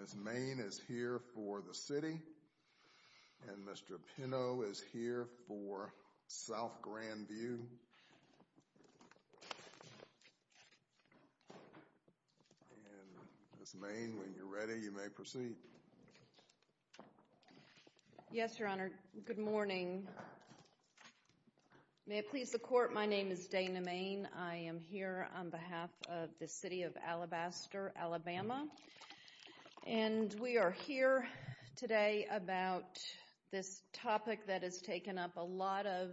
Ms. Main is here for the city, and Mr. Pinnow is here for the city, and Mr. Pinnow is here for South Grand View. And Ms. Main, when you're ready, you may proceed. Yes, Your Honor. Good morning. May it please the court, my name is Dana Main. I am here on behalf of the City of Alabaster, Alabama, and we are here today about this topic that is taking up a lot of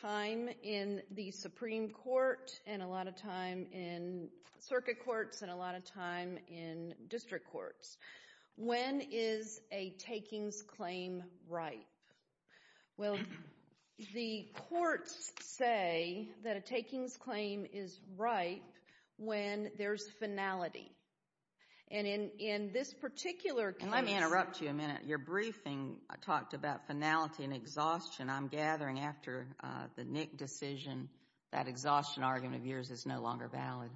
time in the Supreme Court, and a lot of time in circuit courts, and a lot of time in district courts. When is a takings claim ripe? Well, the courts say that a takings claim is ripe when there's finality. And in this particular case— Exhaustion, I'm gathering after the Nick decision, that exhaustion argument of yours is no longer valid.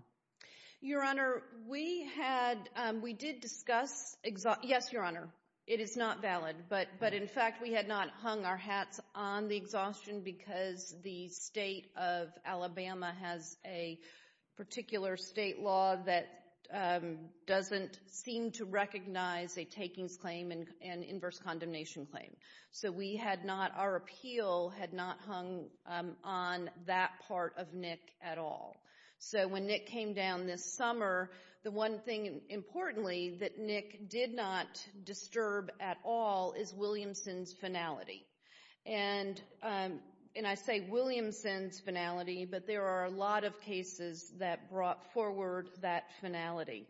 Your Honor, we had—we did discuss—yes, Your Honor, it is not valid. But in fact, we had not hung our hats on the exhaustion because the state of Alabama has a particular state law that doesn't seem to recognize a takings claim and inverse condemnation claim. So we had not—our appeal had not hung on that part of Nick at all. So when Nick came down this summer, the one thing, importantly, that Nick did not disturb at all is Williamson's finality. And I say Williamson's finality, but there are a lot of cases that brought forward that finality.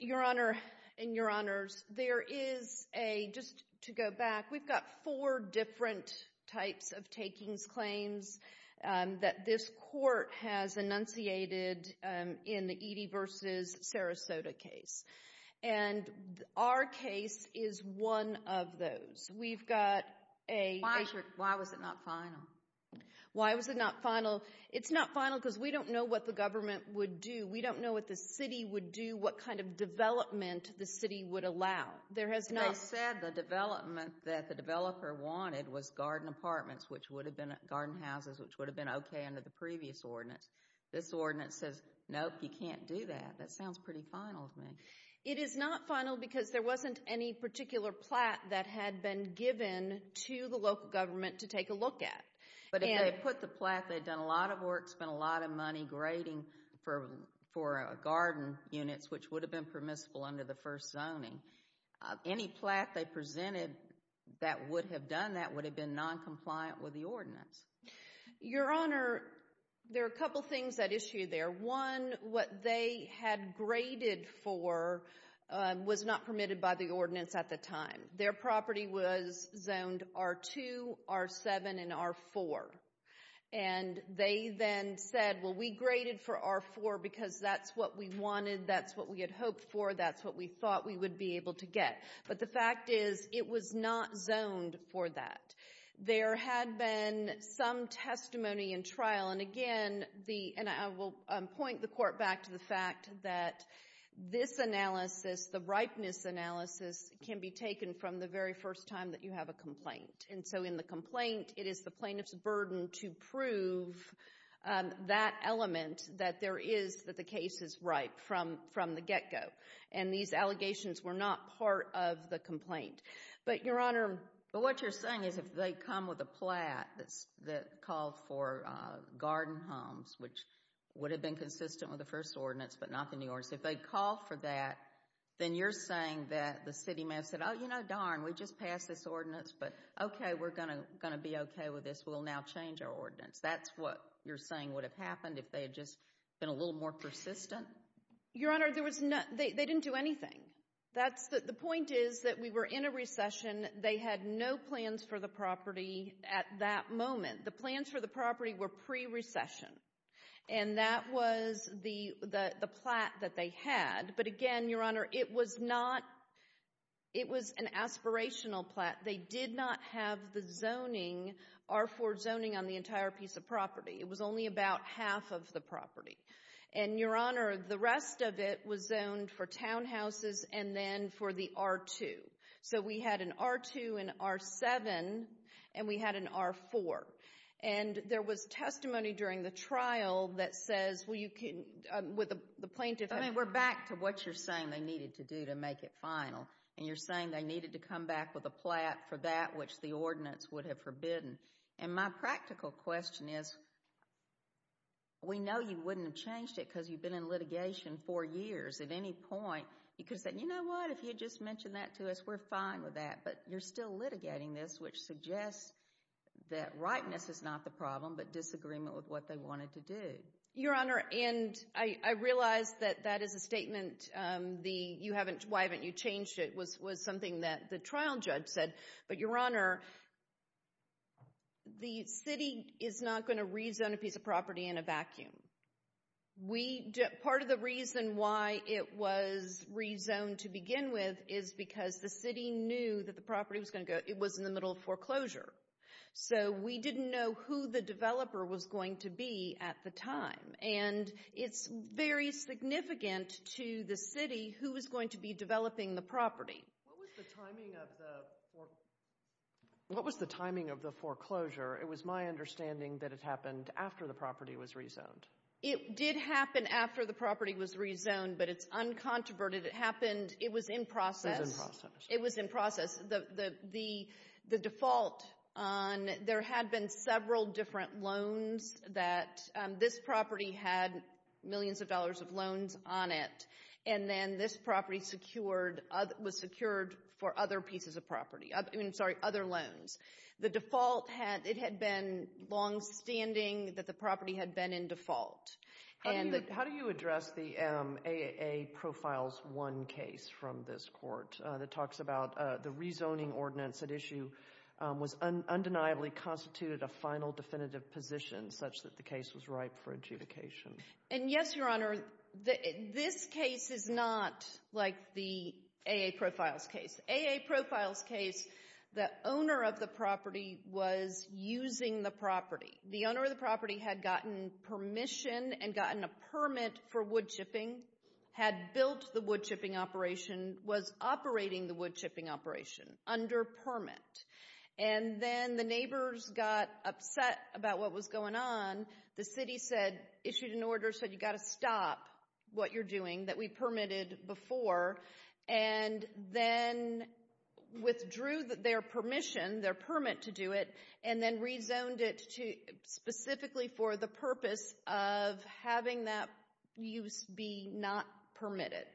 Your Honor, and Your Honors, there is a—just to go back, we've got four different types of takings claims that this Court has enunciated in the Eadie v. Sarasota case. And our case is one of those. We've got a— Why was it not final? Why was it not final? It's not final because we don't know what the government would do. We don't know what the city would do, what kind of development the city would allow. There has not— They said the development that the developer wanted was garden apartments, which would have been—garden houses, which would have been okay under the previous ordinance. This ordinance says, nope, you can't do that. That sounds pretty final to me. It is not final because there wasn't any particular plat that had been given to the local government to take a look at. And— But if they had put the plat, they'd done a lot of work, spent a lot of money grading for garden units, which would have been permissible under the first zoning. Any plat they presented that would have done that would have been noncompliant with the ordinance. Your Honor, there are a couple things at issue there. One, what they had graded for was not permitted by the ordinance at the time. Their property was zoned R2, R7, and R4. And they then said, well, we graded for R4 because that's what we wanted, that's what we had hoped for, that's what we thought we would be able to get. But the fact is, it was not zoned for that. There had been some testimony in trial, and again, the—and I will point the Court back to the fact that this analysis, the ripeness analysis, can be taken from the very first time that you have a complaint. And so in the complaint, it is the plaintiff's burden to prove that element, that there is—that the case is ripe from the get-go. And these allegations were not part of the complaint. But, Your Honor— But what you're saying is if they come with a plat that called for garden homes, which would have been consistent with the first ordinance, but not the new ordinance, if they call for that, then you're saying that the city may have said, oh, you know, darn, we just passed this ordinance, but okay, we're going to be okay with this. We'll now change our ordinance. That's what you're saying would have happened if they had just been a little more persistent? Your Honor, there was no—they didn't do anything. That's the—the point is that we were in a recession. They had no plans for the property at that moment. The plans for the property were pre-recession, and that was the plat that they had. But again, Your Honor, it was not—it was an aspirational plat. They did not have the zoning, R-4 zoning, on the entire piece of property. It was only about half of the property. And, Your Honor, the rest of it was zoned for townhouses and then for the R-2. So we had an R-2 and R-7, and we had an R-4. And there was testimony during the trial that says, well, you can—with the plaintiff— Well, I mean, we're back to what you're saying they needed to do to make it final. And you're saying they needed to come back with a plat for that which the ordinance would have forbidden. And my practical question is, we know you wouldn't have changed it because you've been in litigation for years at any point. You could have said, you know what, if you'd just mentioned that to us, we're fine with that. But you're still litigating this, which suggests that rightness is not the problem but disagreement with what they wanted to do. Your Honor, and I realize that that is a statement. Why haven't you changed it was something that the trial judge said. But, Your Honor, the city is not going to rezone a piece of property in a vacuum. We—part of the reason why it was rezoned to begin with is because the city knew that the property was going to go—it was in the middle of foreclosure. So we didn't know who the developer was going to be at the time. And it's very significant to the city who was going to be developing the property. What was the timing of the—what was the timing of the foreclosure? It was my understanding that it happened after the property was rezoned. It did happen after the property was rezoned, but it's uncontroverted. It happened—it was in process. It was in process. The default on—there had been several different loans that—this property had millions of dollars of loans on it. And then this property secured—was secured for other pieces of property—I mean, sorry, other loans. The default had—it had been longstanding that the property had been in default. And the— How do you address the AAA Profiles 1 case from this court that talks about the rezoning ordinance at issue was undeniably constituted a final definitive position such that the case was ripe for adjudication? And, yes, Your Honor, this case is not like the AA Profiles case. The AA Profiles case, the owner of the property was using the property. The owner of the property had gotten permission and gotten a permit for woodchipping, had built the woodchipping operation, was operating the woodchipping operation under permit. And then the neighbors got upset about what was going on. The city said—issued an order, said, you've got to stop what you're doing that we permitted before, and then withdrew their permission, their permit to do it, and then rezoned it specifically for the purpose of having that use be not permitted.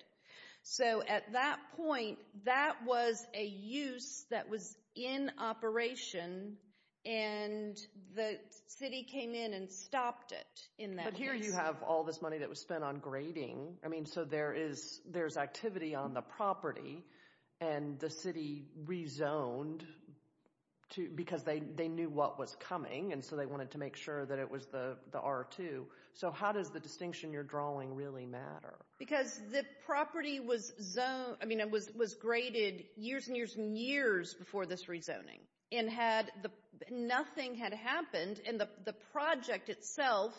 So at that point, that was a use that was in operation, and the city came in and stopped it in that case. But here you have all this money that was spent on grading. I mean, so there is—there's activity on the property, and the city rezoned because they knew what was coming, and so they wanted to make sure that it was the R2. So how does the distinction you're drawing really matter? Because the property was zoned—I mean, it was graded years and years and years before this rezoning, and had—nothing had happened, and the project itself,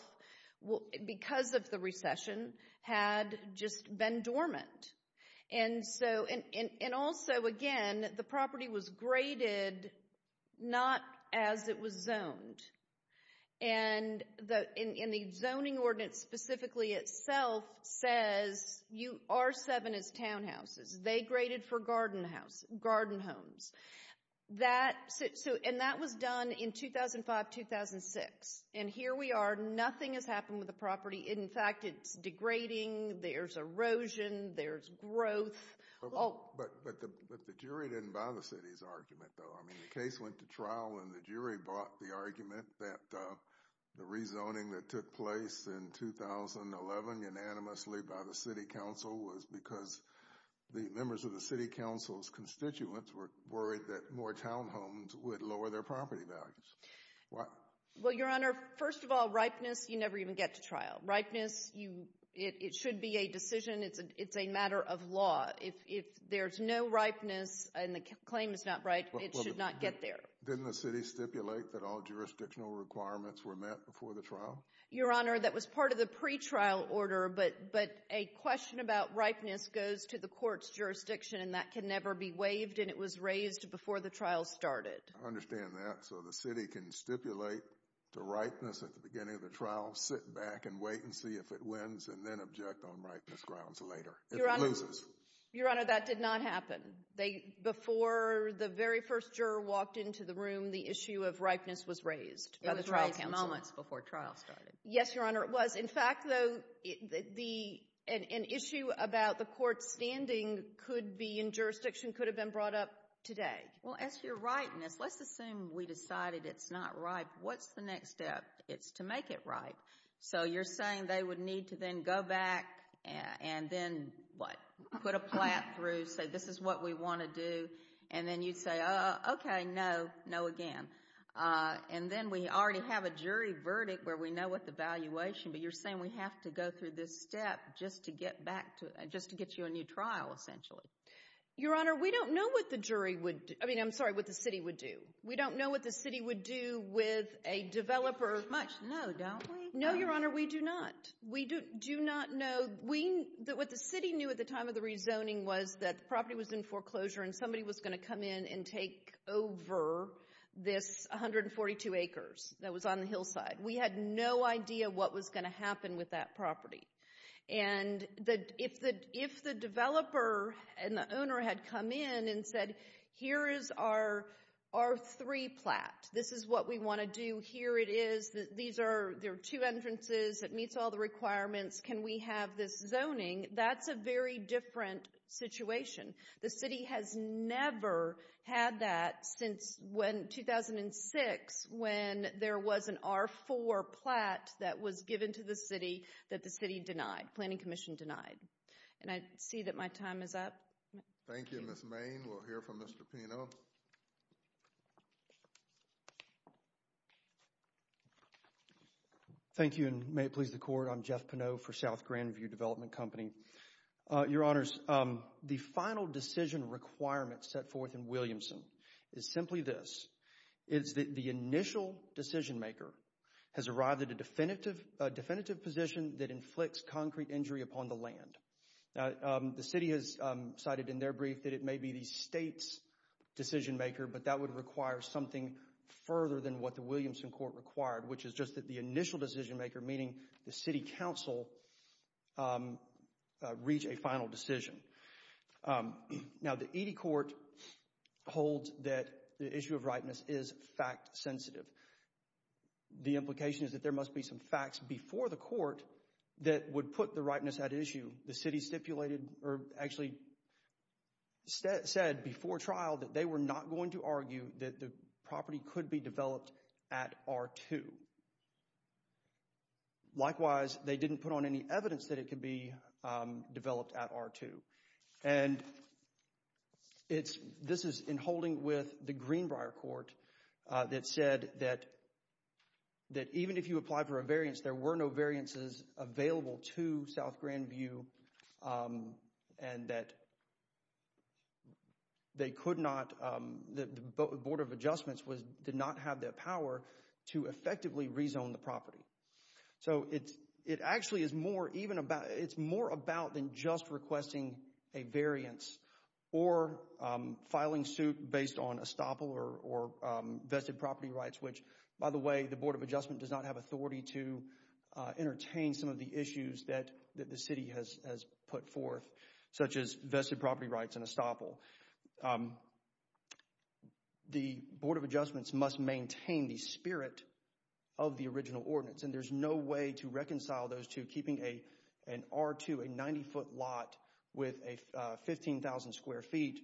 because of the recession, had just been dormant. And so—and also, again, the property was graded not as it was zoned, and the zoning ordinance specifically itself says R7 is townhouses. They graded for garden house—garden homes. That—and that was done in 2005-2006. And here we are. Nothing has happened with the property. In fact, it's degrading. There's erosion. There's growth. But the jury didn't buy the city's argument, though. I mean, the case went to trial, and the jury bought the argument that the rezoning that took place in 2011 unanimously by the city council was because the members of the city council's constituents were worried that more townhomes would lower their property values. Well, Your Honor, first of all, ripeness, you never even get to trial. Ripeness, you—it should be a decision. It's a matter of law. If there's no ripeness and the claim is not right, it should not get there. Didn't the city stipulate that all jurisdictional requirements were met before the trial? Your Honor, that was part of the pretrial order, but a question about ripeness goes to the court's jurisdiction, and that can never be waived, and it was raised before the trial started. I understand that. So the city can stipulate to ripeness at the beginning of the trial, sit back and wait and see if it wins, and then object on ripeness grounds later if it loses. Your Honor, that did not happen. Before the very first juror walked into the room, the issue of ripeness was raised by the trial council. It was raised moments before trial started. Yes, Your Honor, it was. In fact, though, an issue about the court's standing could be in jurisdiction, could have been brought up today. Well, as for your ripeness, let's assume we decided it's not right. What's the next step? It's to make it right. So you're saying they would need to then go back and then, what, put a plat through, say, this is what we want to do, and then you'd say, oh, okay, no, no again. And then we already have a jury verdict where we know what the valuation, but you're saying we have to go through this step just to get back to—just to get you a new trial, essentially. Your Honor, we don't know what the jury would—I mean, I'm sorry, what the city would do. We don't know what the city would do with a developer— We don't know much, no, don't we? No, Your Honor, we do not. We do not know. What the city knew at the time of the rezoning was that the property was in foreclosure and somebody was going to come in and take over this 142 acres that was on the hillside. We had no idea what was going to happen with that property. And if the developer and the owner had come in and said, here is our R3 plat. This is what we want to do. Here it is. These are—there are two entrances. It meets all the requirements. Can we have this zoning? That's a very different situation. The city has never had that since 2006 when there was an R4 plat that was given to the city that the city denied, Planning Commission denied. And I see that my time is up. Thank you, Ms. Main. We'll hear from Mr. Pino. Thank you, and may it please the Court. I'm Jeff Pino for South Grandview Development Company. Your Honors, the final decision requirement set forth in Williamson is simply this. It's that the initial decision maker has arrived at a definitive position that inflicts concrete injury upon the land. Now, the city has cited in their brief that it may be the state's decision maker, but that would require something further than what the Williamson Court required, which is just that the initial decision maker, meaning the city council, reach a final decision. Now, the Edie Court holds that the issue of ripeness is fact sensitive. The implication is that there must be some facts before the court that would put the ripeness at issue. The city stipulated or actually said before trial that they were not going to argue that the property could be developed at R2. Likewise, they didn't put on any evidence that it could be developed at R2. This is in holding with the Greenbrier Court that said that even if you apply for a variance, there were no variances available to South Grandview, and that the Board of Adjustments did not have the power to effectively rezone the property. So, it actually is more about than just requesting a variance or filing suit based on estoppel or vested property rights, which, by the way, the Board of Adjustment does not have authority to entertain some of the issues that the city has put forth, such as vested property rights and estoppel. The Board of Adjustments must maintain the spirit of the original ordinance, and there's no way to reconcile those two, keeping an R2, a 90-foot lot, with a 15,000 square feet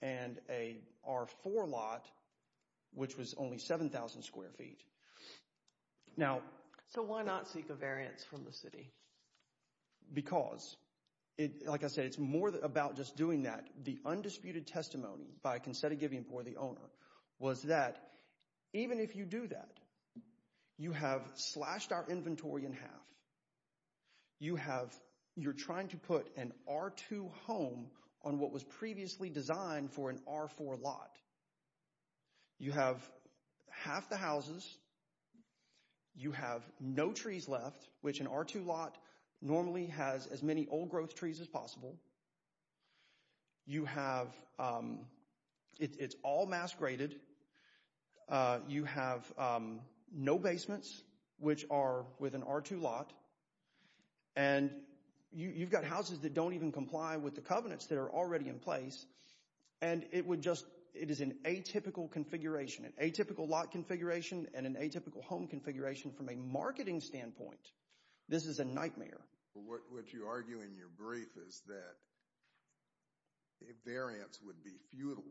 and a R4 lot, which was only 7,000 square feet. Now, so why not seek a variance from the city? Because, like I said, it's more about just doing that. The undisputed testimony by a conceded giving board, the owner, was that even if you do that, you have slashed our inventory in half. You're trying to put an R2 home on what was previously designed for an R4 lot. You have half the houses. You have no trees left, which an R2 lot normally has as many old growth trees as possible. You have – it's all mass graded. You have no basements, which are with an R2 lot. And you've got houses that don't even comply with the covenants that are already in place. And it would just – it is an atypical configuration, an atypical lot configuration and an atypical home configuration from a marketing standpoint. This is a nightmare. What you argue in your brief is that a variance would be futile.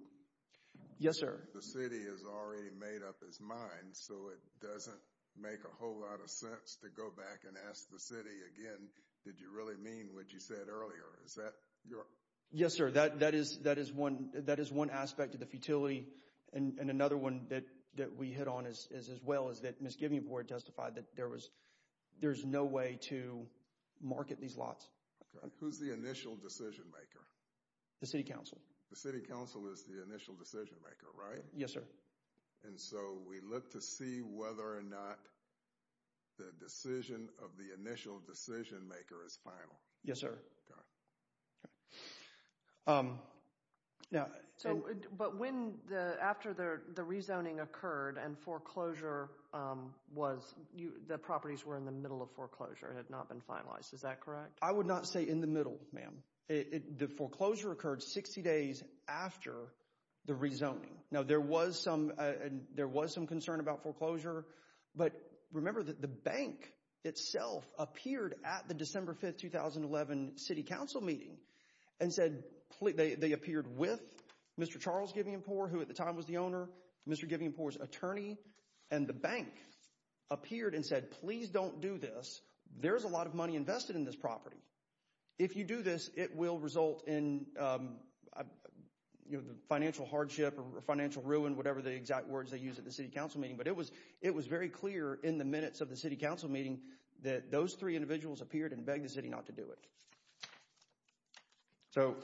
Yes, sir. The city has already made up its mind, so it doesn't make a whole lot of sense to go back and ask the city again, did you really mean what you said earlier? Yes, sir. That is one aspect of the futility. And another one that we hit on as well is that Misgiving Board testified that there was – there's no way to market these lots. Who's the initial decision maker? The city council. The city council is the initial decision maker, right? Yes, sir. And so we look to see whether or not the decision of the initial decision maker is final. Yes, sir. Okay. So – but when – after the rezoning occurred and foreclosure was – the properties were in the middle of foreclosure and had not been finalized. Is that correct? I would not say in the middle, ma'am. The foreclosure occurred 60 days after the rezoning. Now, there was some – there was some concern about foreclosure, but remember that the bank itself appeared at the December 5, 2011 city council meeting and said – they appeared with Mr. Charles Givienpore, who at the time was the owner, Mr. Givienpore's attorney, and the bank appeared and said, please don't do this. There's a lot of money invested in this property. If you do this, it will result in financial hardship or financial ruin, whatever the exact words they use at the city council meeting. But it was very clear in the minutes of the city council meeting that those three individuals appeared and begged the city not to do it. So,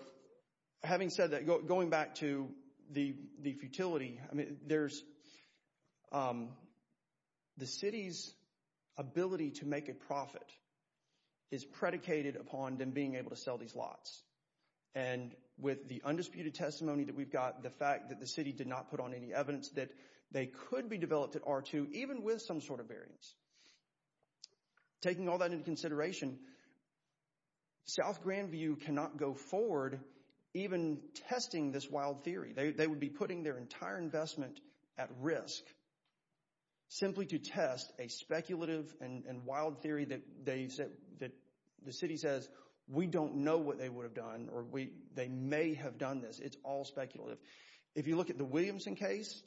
having said that, going back to the futility, I mean, there's – the city's ability to make a profit is predicated upon them being able to sell these lots. And with the undisputed testimony that we've got, the fact that the city did not put on any evidence that they could be developed at R2, even with some sort of variance, taking all that into consideration, South Grandview cannot go forward even testing this wild theory. They would be putting their entire investment at risk simply to test a speculative and wild theory that they – that the city says we don't know what they would have done or they may have done this. It's all speculative. If you look at the Williamson case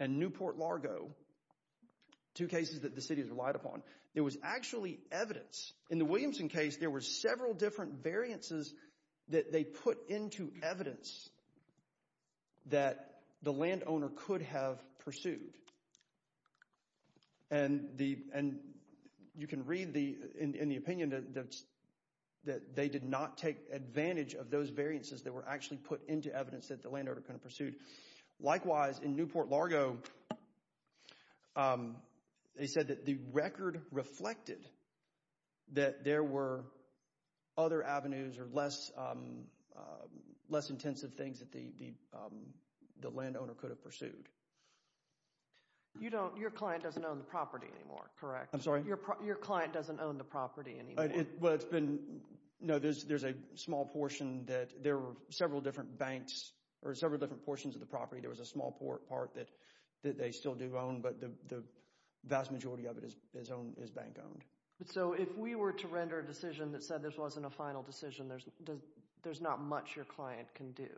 and Newport Largo, two cases that the city has relied upon, there was actually evidence. In the Williamson case, there were several different variances that they put into evidence that the landowner could have pursued. And you can read in the opinion that they did not take advantage of those variances that were actually put into evidence that the landowner could have pursued. Likewise, in Newport Largo, they said that the record reflected that there were other avenues or less intensive things that the landowner could have pursued. You don't – your client doesn't own the property anymore, correct? I'm sorry? Your client doesn't own the property anymore. Well, it's been – no, there's a small portion that – there were several different banks or several different portions of the property. There was a small part that they still do own, but the vast majority of it is bank-owned. So if we were to render a decision that said this wasn't a final decision, there's not much your client can do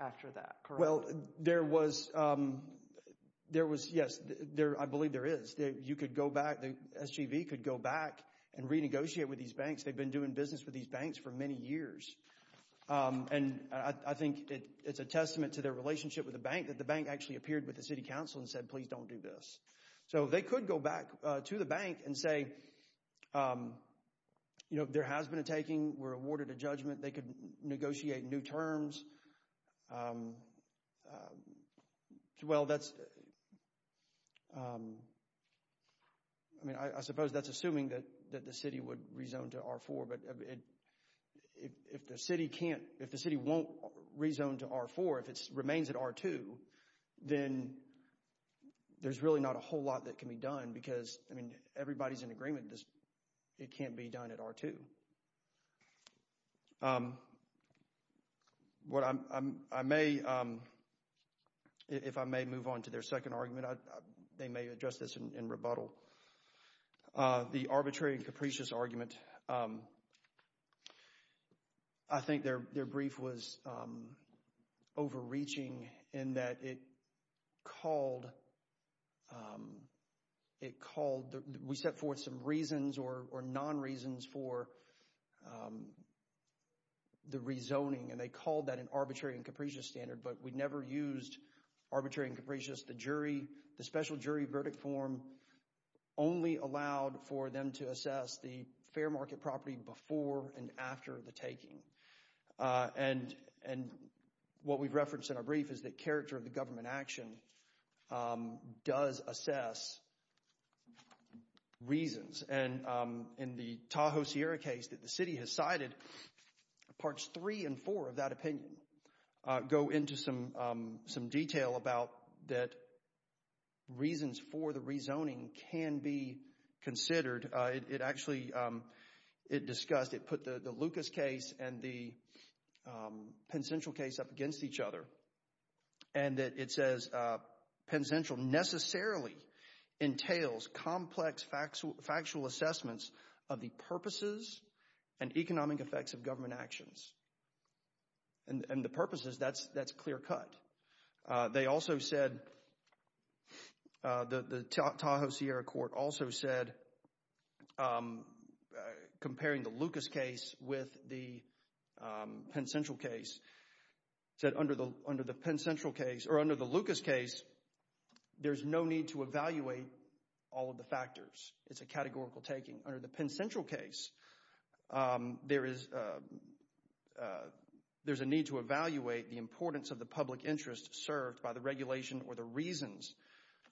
after that, correct? Well, there was – yes, I believe there is. You could go back – the SGV could go back and renegotiate with these banks. They've been doing business with these banks for many years. And I think it's a testament to their relationship with the bank that the bank actually appeared with the city council and said, please don't do this. So they could go back to the bank and say there has been a taking. We're awarded a judgment. They could negotiate new terms. Well, that's – I mean, I suppose that's assuming that the city would rezone to R-4, but if the city can't – if the city won't rezone to R-4, if it remains at R-2, then there's really not a whole lot that can be done because, I mean, everybody's in agreement it can't be done at R-2. What I may – if I may move on to their second argument, they may address this in rebuttal. The arbitrary and capricious argument. I think their brief was overreaching in that it called – it called – we set forth some reasons or non-reasons for the rezoning, and they called that an arbitrary and capricious standard, but we never used arbitrary and capricious. Just the jury – the special jury verdict form only allowed for them to assess the fair market property before and after the taking. And what we've referenced in our brief is that character of the government action does assess reasons. And in the Tahoe Sierra case that the city has cited, parts three and four of that opinion go into some detail about that reasons for the rezoning can be considered. It actually – it discussed – it put the Lucas case and the Penn Central case up against each other, and it says Penn Central necessarily entails complex factual assessments of the purposes and economic effects of government actions. And the purposes, that's clear cut. They also said – the Tahoe Sierra court also said, comparing the Lucas case with the Penn Central case, said under the Penn Central case – or under the Lucas case, there's no need to evaluate all of the factors. It's a categorical taking. Under the Penn Central case, there is a need to evaluate the importance of the public interest served by the regulation or the reasons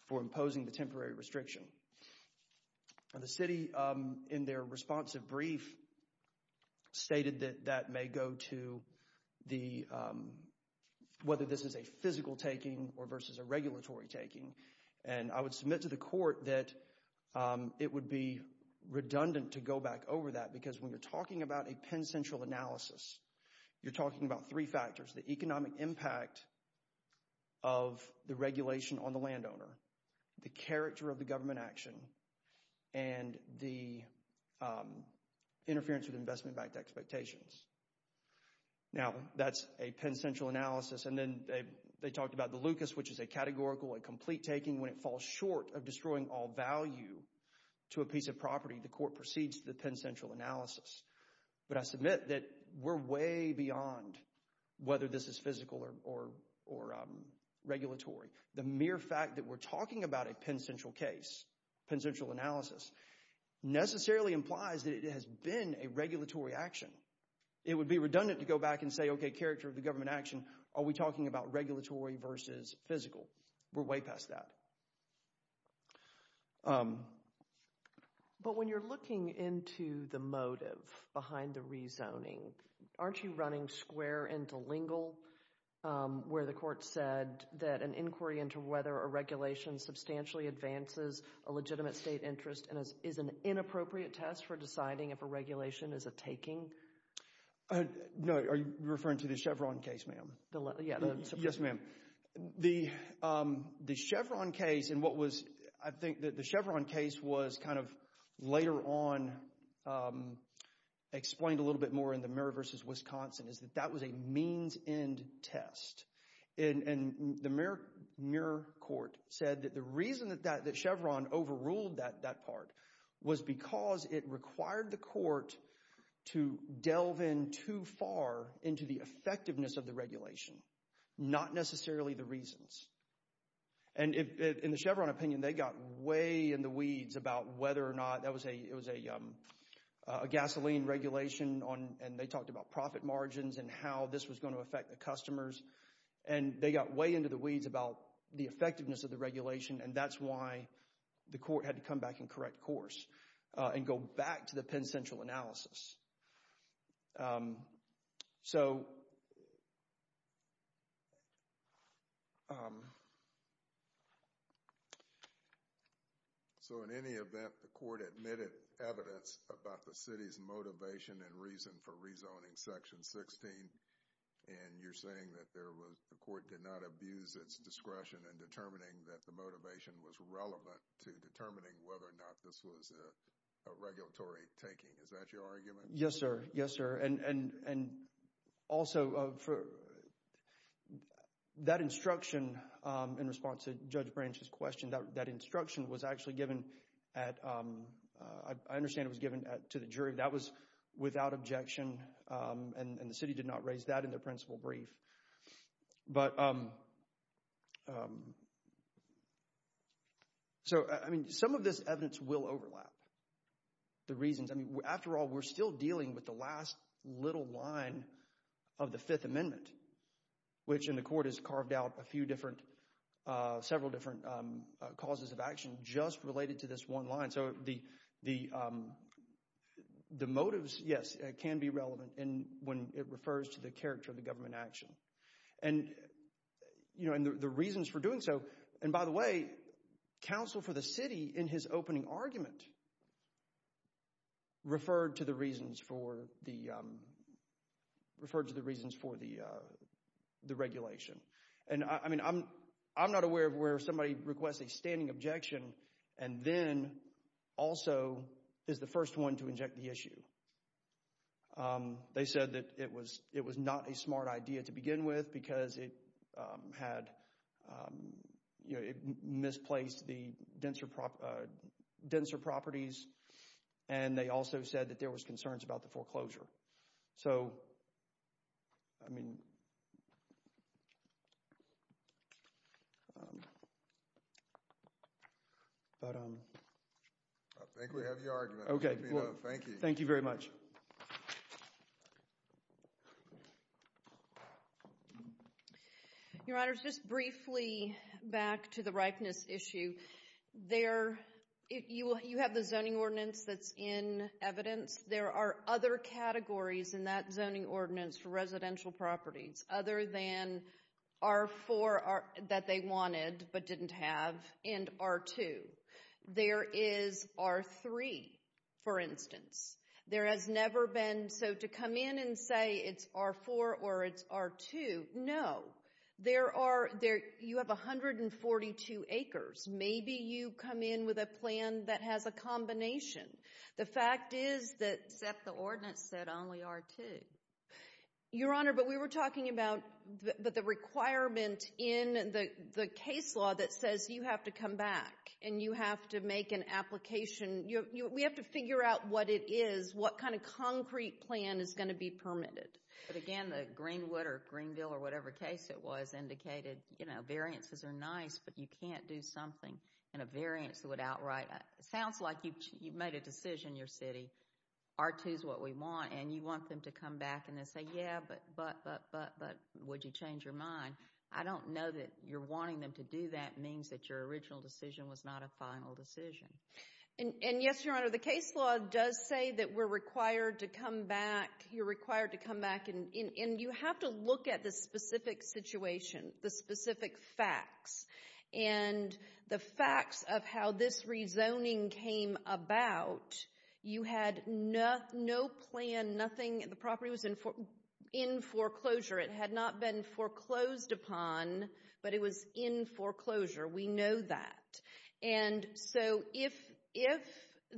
for imposing the temporary restriction. The city, in their responsive brief, stated that that may go to the – whether this is a physical taking or versus a regulatory taking. And I would submit to the court that it would be redundant to go back over that, because when you're talking about a Penn Central analysis, you're talking about three factors. The economic impact of the regulation on the landowner, the character of the government action, and the interference with investment-backed expectations. Now, that's a Penn Central analysis. And then they talked about the Lucas, which is a categorical and complete taking. When it falls short of destroying all value to a piece of property, the court proceeds to the Penn Central analysis. But I submit that we're way beyond whether this is physical or regulatory. The mere fact that we're talking about a Penn Central case, Penn Central analysis, necessarily implies that it has been a regulatory action. It would be redundant to go back and say, okay, character of the government action, are we talking about regulatory versus physical? We're way past that. But when you're looking into the motive behind the rezoning, aren't you running square and dilingual where the court said that an inquiry into whether a regulation substantially advances a legitimate state interest is an inappropriate test for deciding if a regulation is a taking? No, are you referring to the Chevron case, ma'am? Yes, ma'am. The Chevron case, and what was, I think the Chevron case was kind of later on explained a little bit more in the Muir v. Wisconsin, is that that was a means-end test. And the Muir court said that the reason that Chevron overruled that part was because it required the court to delve in too far into the effectiveness of the regulation, not necessarily the reasons. And in the Chevron opinion, they got way in the weeds about whether or not, it was a gasoline regulation, and they talked about profit margins and how this was going to affect the customers. And they got way into the weeds about the effectiveness of the regulation, and that's why the court had to come back and correct course and go back to the Penn Central analysis. So in any event, the court admitted evidence about the city's motivation and reason for rezoning Section 16, and you're saying that there was, the court did not abuse its discretion in determining that the motivation was relevant to determining whether or not this was a regulatory taking. Is that your argument? Yes, sir. Yes, sir. And also, that instruction in response to Judge Branch's question, that instruction was actually given at, I understand it was given to the jury. That was without objection, and the city did not raise that in the principal brief. But, so, I mean, some of this evidence will overlap. The reasons, I mean, after all, we're still dealing with the last little line of the Fifth Amendment, which in the court has carved out a few different, several different causes of action just related to this one line. So the motives, yes, can be relevant when it refers to the character of the government action. And the reasons for doing so, and by the way, the counsel for the city in his opening argument referred to the reasons for the regulation. And, I mean, I'm not aware of where somebody requests a standing objection and then also is the first one to inject the issue. They said that it was not a smart idea to begin with because it had, you know, it misplaced the denser properties. And they also said that there was concerns about the foreclosure. So, I mean, but… I think we have your argument. Okay, thank you very much. Your Honor, just briefly back to the ripeness issue. You have the zoning ordinance that's in evidence. There are other categories in that zoning ordinance for residential properties other than R4 that they wanted but didn't have and R2. There is R3, for instance. There has never been, so to come in and say it's R4 or it's R2, no. There are, you have 142 acres. Maybe you come in with a plan that has a combination. The fact is that… Except the ordinance said only R2. Your Honor, but we were talking about the requirement in the case law that says you have to come back and you have to make an application. We have to figure out what it is, what kind of concrete plan is going to be permitted. But again, the Greenwood or Greenville or whatever case it was indicated, you know, variances are nice but you can't do something in a variance that would outright. It sounds like you've made a decision in your city. R2 is what we want and you want them to come back and then say, yeah, but would you change your mind? I don't know that you're wanting them to do that means that your original decision was not a final decision. And, yes, Your Honor, the case law does say that we're required to come back, you're required to come back, and you have to look at the specific situation, the specific facts. And the facts of how this rezoning came about, you had no plan, nothing. The property was in foreclosure. It had not been foreclosed upon, but it was in foreclosure. We know that. And so if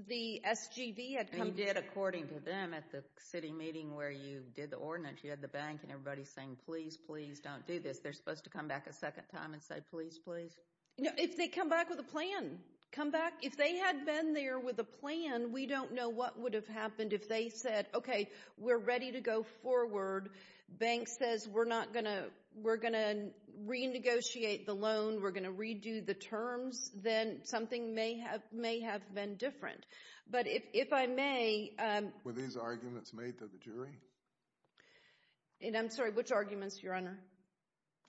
the SGV had come back. And you did according to them at the city meeting where you did the ordinance, you had the bank and everybody saying, please, please don't do this. They're supposed to come back a second time and say, please, please. If they come back with a plan, come back. If they had been there with a plan, we don't know what would have happened if they said, okay, we're ready to go forward. Bank says we're not going to, we're going to renegotiate the loan. We're going to redo the terms. Then something may have been different. But if I may. Were these arguments made to the jury? I'm sorry, which arguments, Your Honor?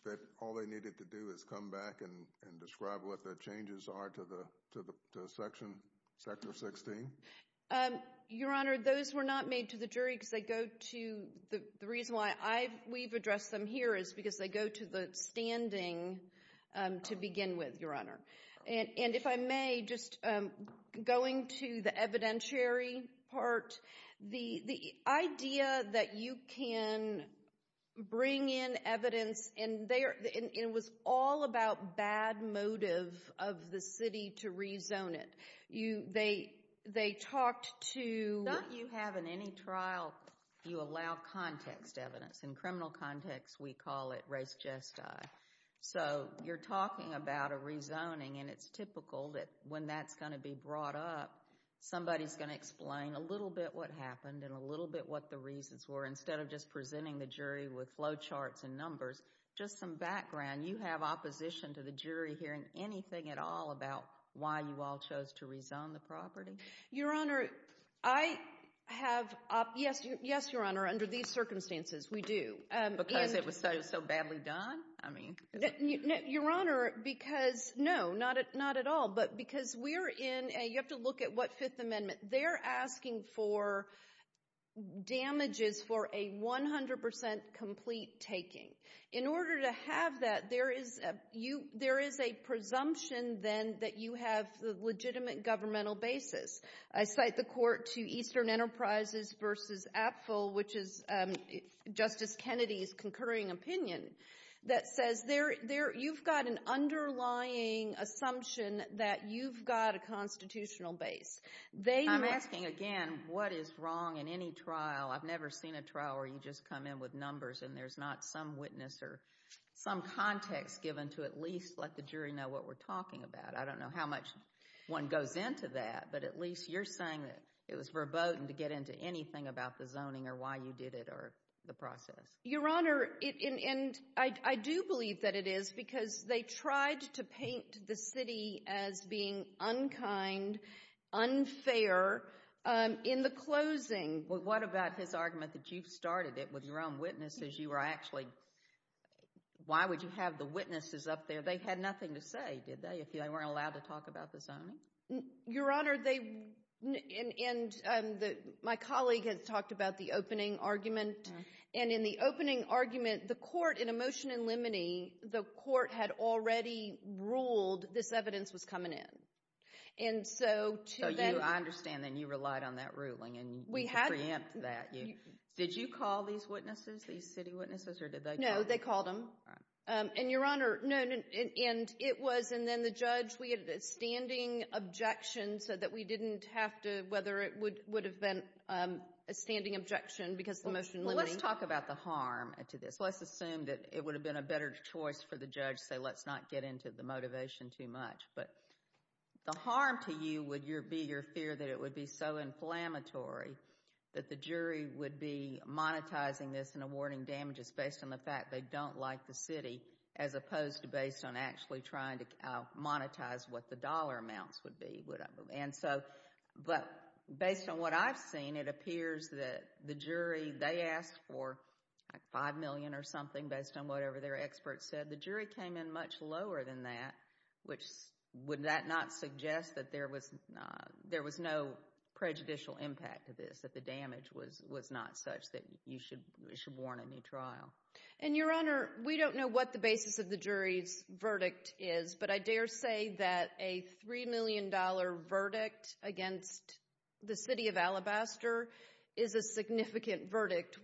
That all they needed to do is come back and describe what the changes are to the section, sector 16? Your Honor, those were not made to the jury because they go to the standing to begin with, Your Honor. And if I may, just going to the evidentiary part, the idea that you can bring in evidence, and it was all about bad motive of the city to rezone it. They talked to. Not you have in any trial you allow context. In criminal context, we call it race jest. So you're talking about a rezoning, and it's typical that when that's going to be brought up, somebody's going to explain a little bit what happened and a little bit what the reasons were instead of just presenting the jury with low charts and numbers, just some background. You have opposition to the jury hearing anything at all about why you all chose to rezone the property. Your Honor, I have. Yes, Your Honor. Under these circumstances, we do. Because it was so badly done? I mean. Your Honor, because, no, not at all. But because we're in a, you have to look at what Fifth Amendment. They're asking for damages for a 100% complete taking. In order to have that, there is a presumption then that you have the legitimate governmental basis. I cite the court to Eastern Enterprises v. Apfel, which is Justice Kennedy's concurring opinion, that says you've got an underlying assumption that you've got a constitutional base. I'm asking, again, what is wrong in any trial? I've never seen a trial where you just come in with numbers, and there's not some witness or some context given to at least let the jury know what we're talking about. I don't know how much one goes into that, but at least you're saying that it was verboten to get into anything about the zoning or why you did it or the process. Your Honor, and I do believe that it is because they tried to paint the city as being unkind, unfair in the closing. Well, what about his argument that you started it with your own witnesses? You were actually, why would you have the witnesses up there? They had nothing to say, did they, if they weren't allowed to talk about the zoning? Your Honor, my colleague had talked about the opening argument, and in the opening argument, the court, in a motion in limine, the court had already ruled this evidence was coming in. So I understand then you relied on that ruling and you preempted that. Did you call these witnesses, these city witnesses, or did they call them? No, they called them. And, Your Honor, no, and it was, and then the judge, we had a standing objection so that we didn't have to, whether it would have been a standing objection because the motion limiting. Well, let's talk about the harm to this. Let's assume that it would have been a better choice for the judge to say, let's not get into the motivation too much. But the harm to you would be your fear that it would be so inflammatory that the jury would be monetizing this and awarding damages based on the fact they don't like the city as opposed to based on actually trying to monetize what the dollar amounts would be, whatever. And so, but based on what I've seen, it appears that the jury, they asked for $5 million or something based on whatever their experts said. The jury came in much lower than that, which, would that not suggest that there was no prejudicial impact to this, that the damage was not such that you should warrant a new trial? And, Your Honor, we don't know what the basis of the jury's verdict is, but I dare say that a $3 million verdict against the city of Alabaster is a significant verdict.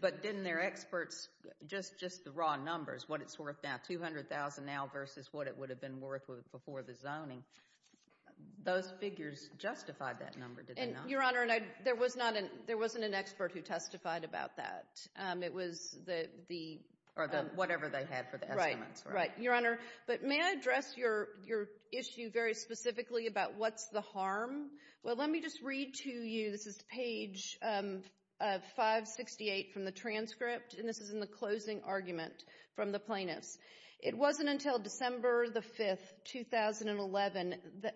But didn't their experts, just the raw numbers, what it's worth now, $200,000 now versus what it would have been worth before the zoning, those figures justified that number, did they not? And, Your Honor, there wasn't an expert who testified about that. It was the... Or whatever they had for the estimates. Right, Your Honor. But may I address your issue very specifically about what's the harm? Well, let me just read to you, this is page 568 from the transcript, and this is in the closing argument from the plaintiffs. It wasn't until December the 5th, 2011,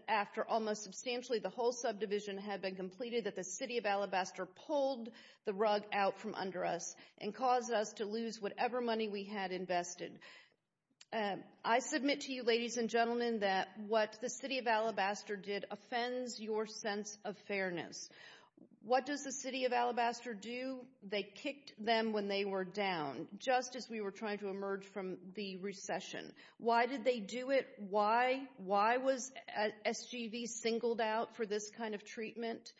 after almost substantially the whole subdivision had been completed that the city of Alabaster pulled the rug out from under us and caused us to lose whatever money we had invested. I submit to you, ladies and gentlemen, that what the city of Alabaster did offends your sense of fairness. What does the city of Alabaster do? They kicked them when they were down, just as we were trying to emerge from the recession. Why did they do it? Why was SGV singled out for this kind of treatment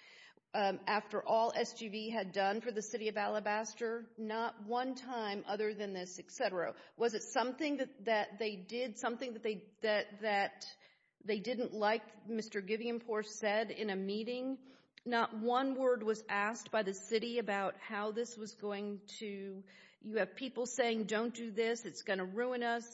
after all SGV had done for the city of Alabaster? Not one time other than this, et cetera. Was it something that they did, something that they didn't like Mr. Giviampore said in a meeting? Not one word was asked by the city about how this was going to... You have people saying, don't do this, it's going to ruin us.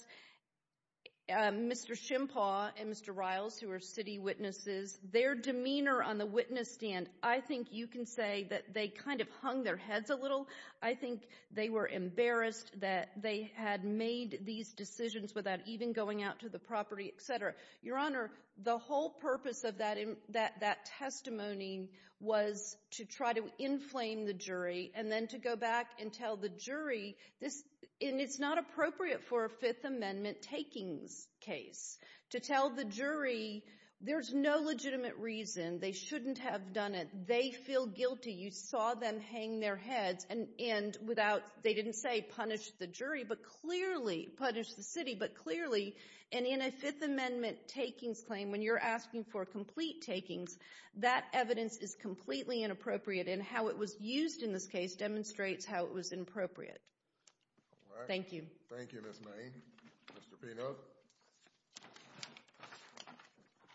Mr. Shimpaw and Mr. Riles, who are city witnesses, their demeanor on the witness stand, I think you can say that they kind of hung their heads a little. I think they were embarrassed that they had made these decisions without even going out to the property, et cetera. Your Honor, the whole purpose of that testimony was to try to inflame the jury and then to go back and tell the jury, and it's not appropriate for a Fifth Amendment takings case to tell the jury there's no legitimate reason, they shouldn't have done it, they feel guilty, you saw them hang their heads and without... They didn't say punish the jury, but clearly... Punish the city, but clearly... And in a Fifth Amendment takings claim, when you're asking for complete takings, that evidence is completely inappropriate and how it was used in this case demonstrates how it was inappropriate. Thank you. Thank you, Ms. Mayne. Mr. Pino.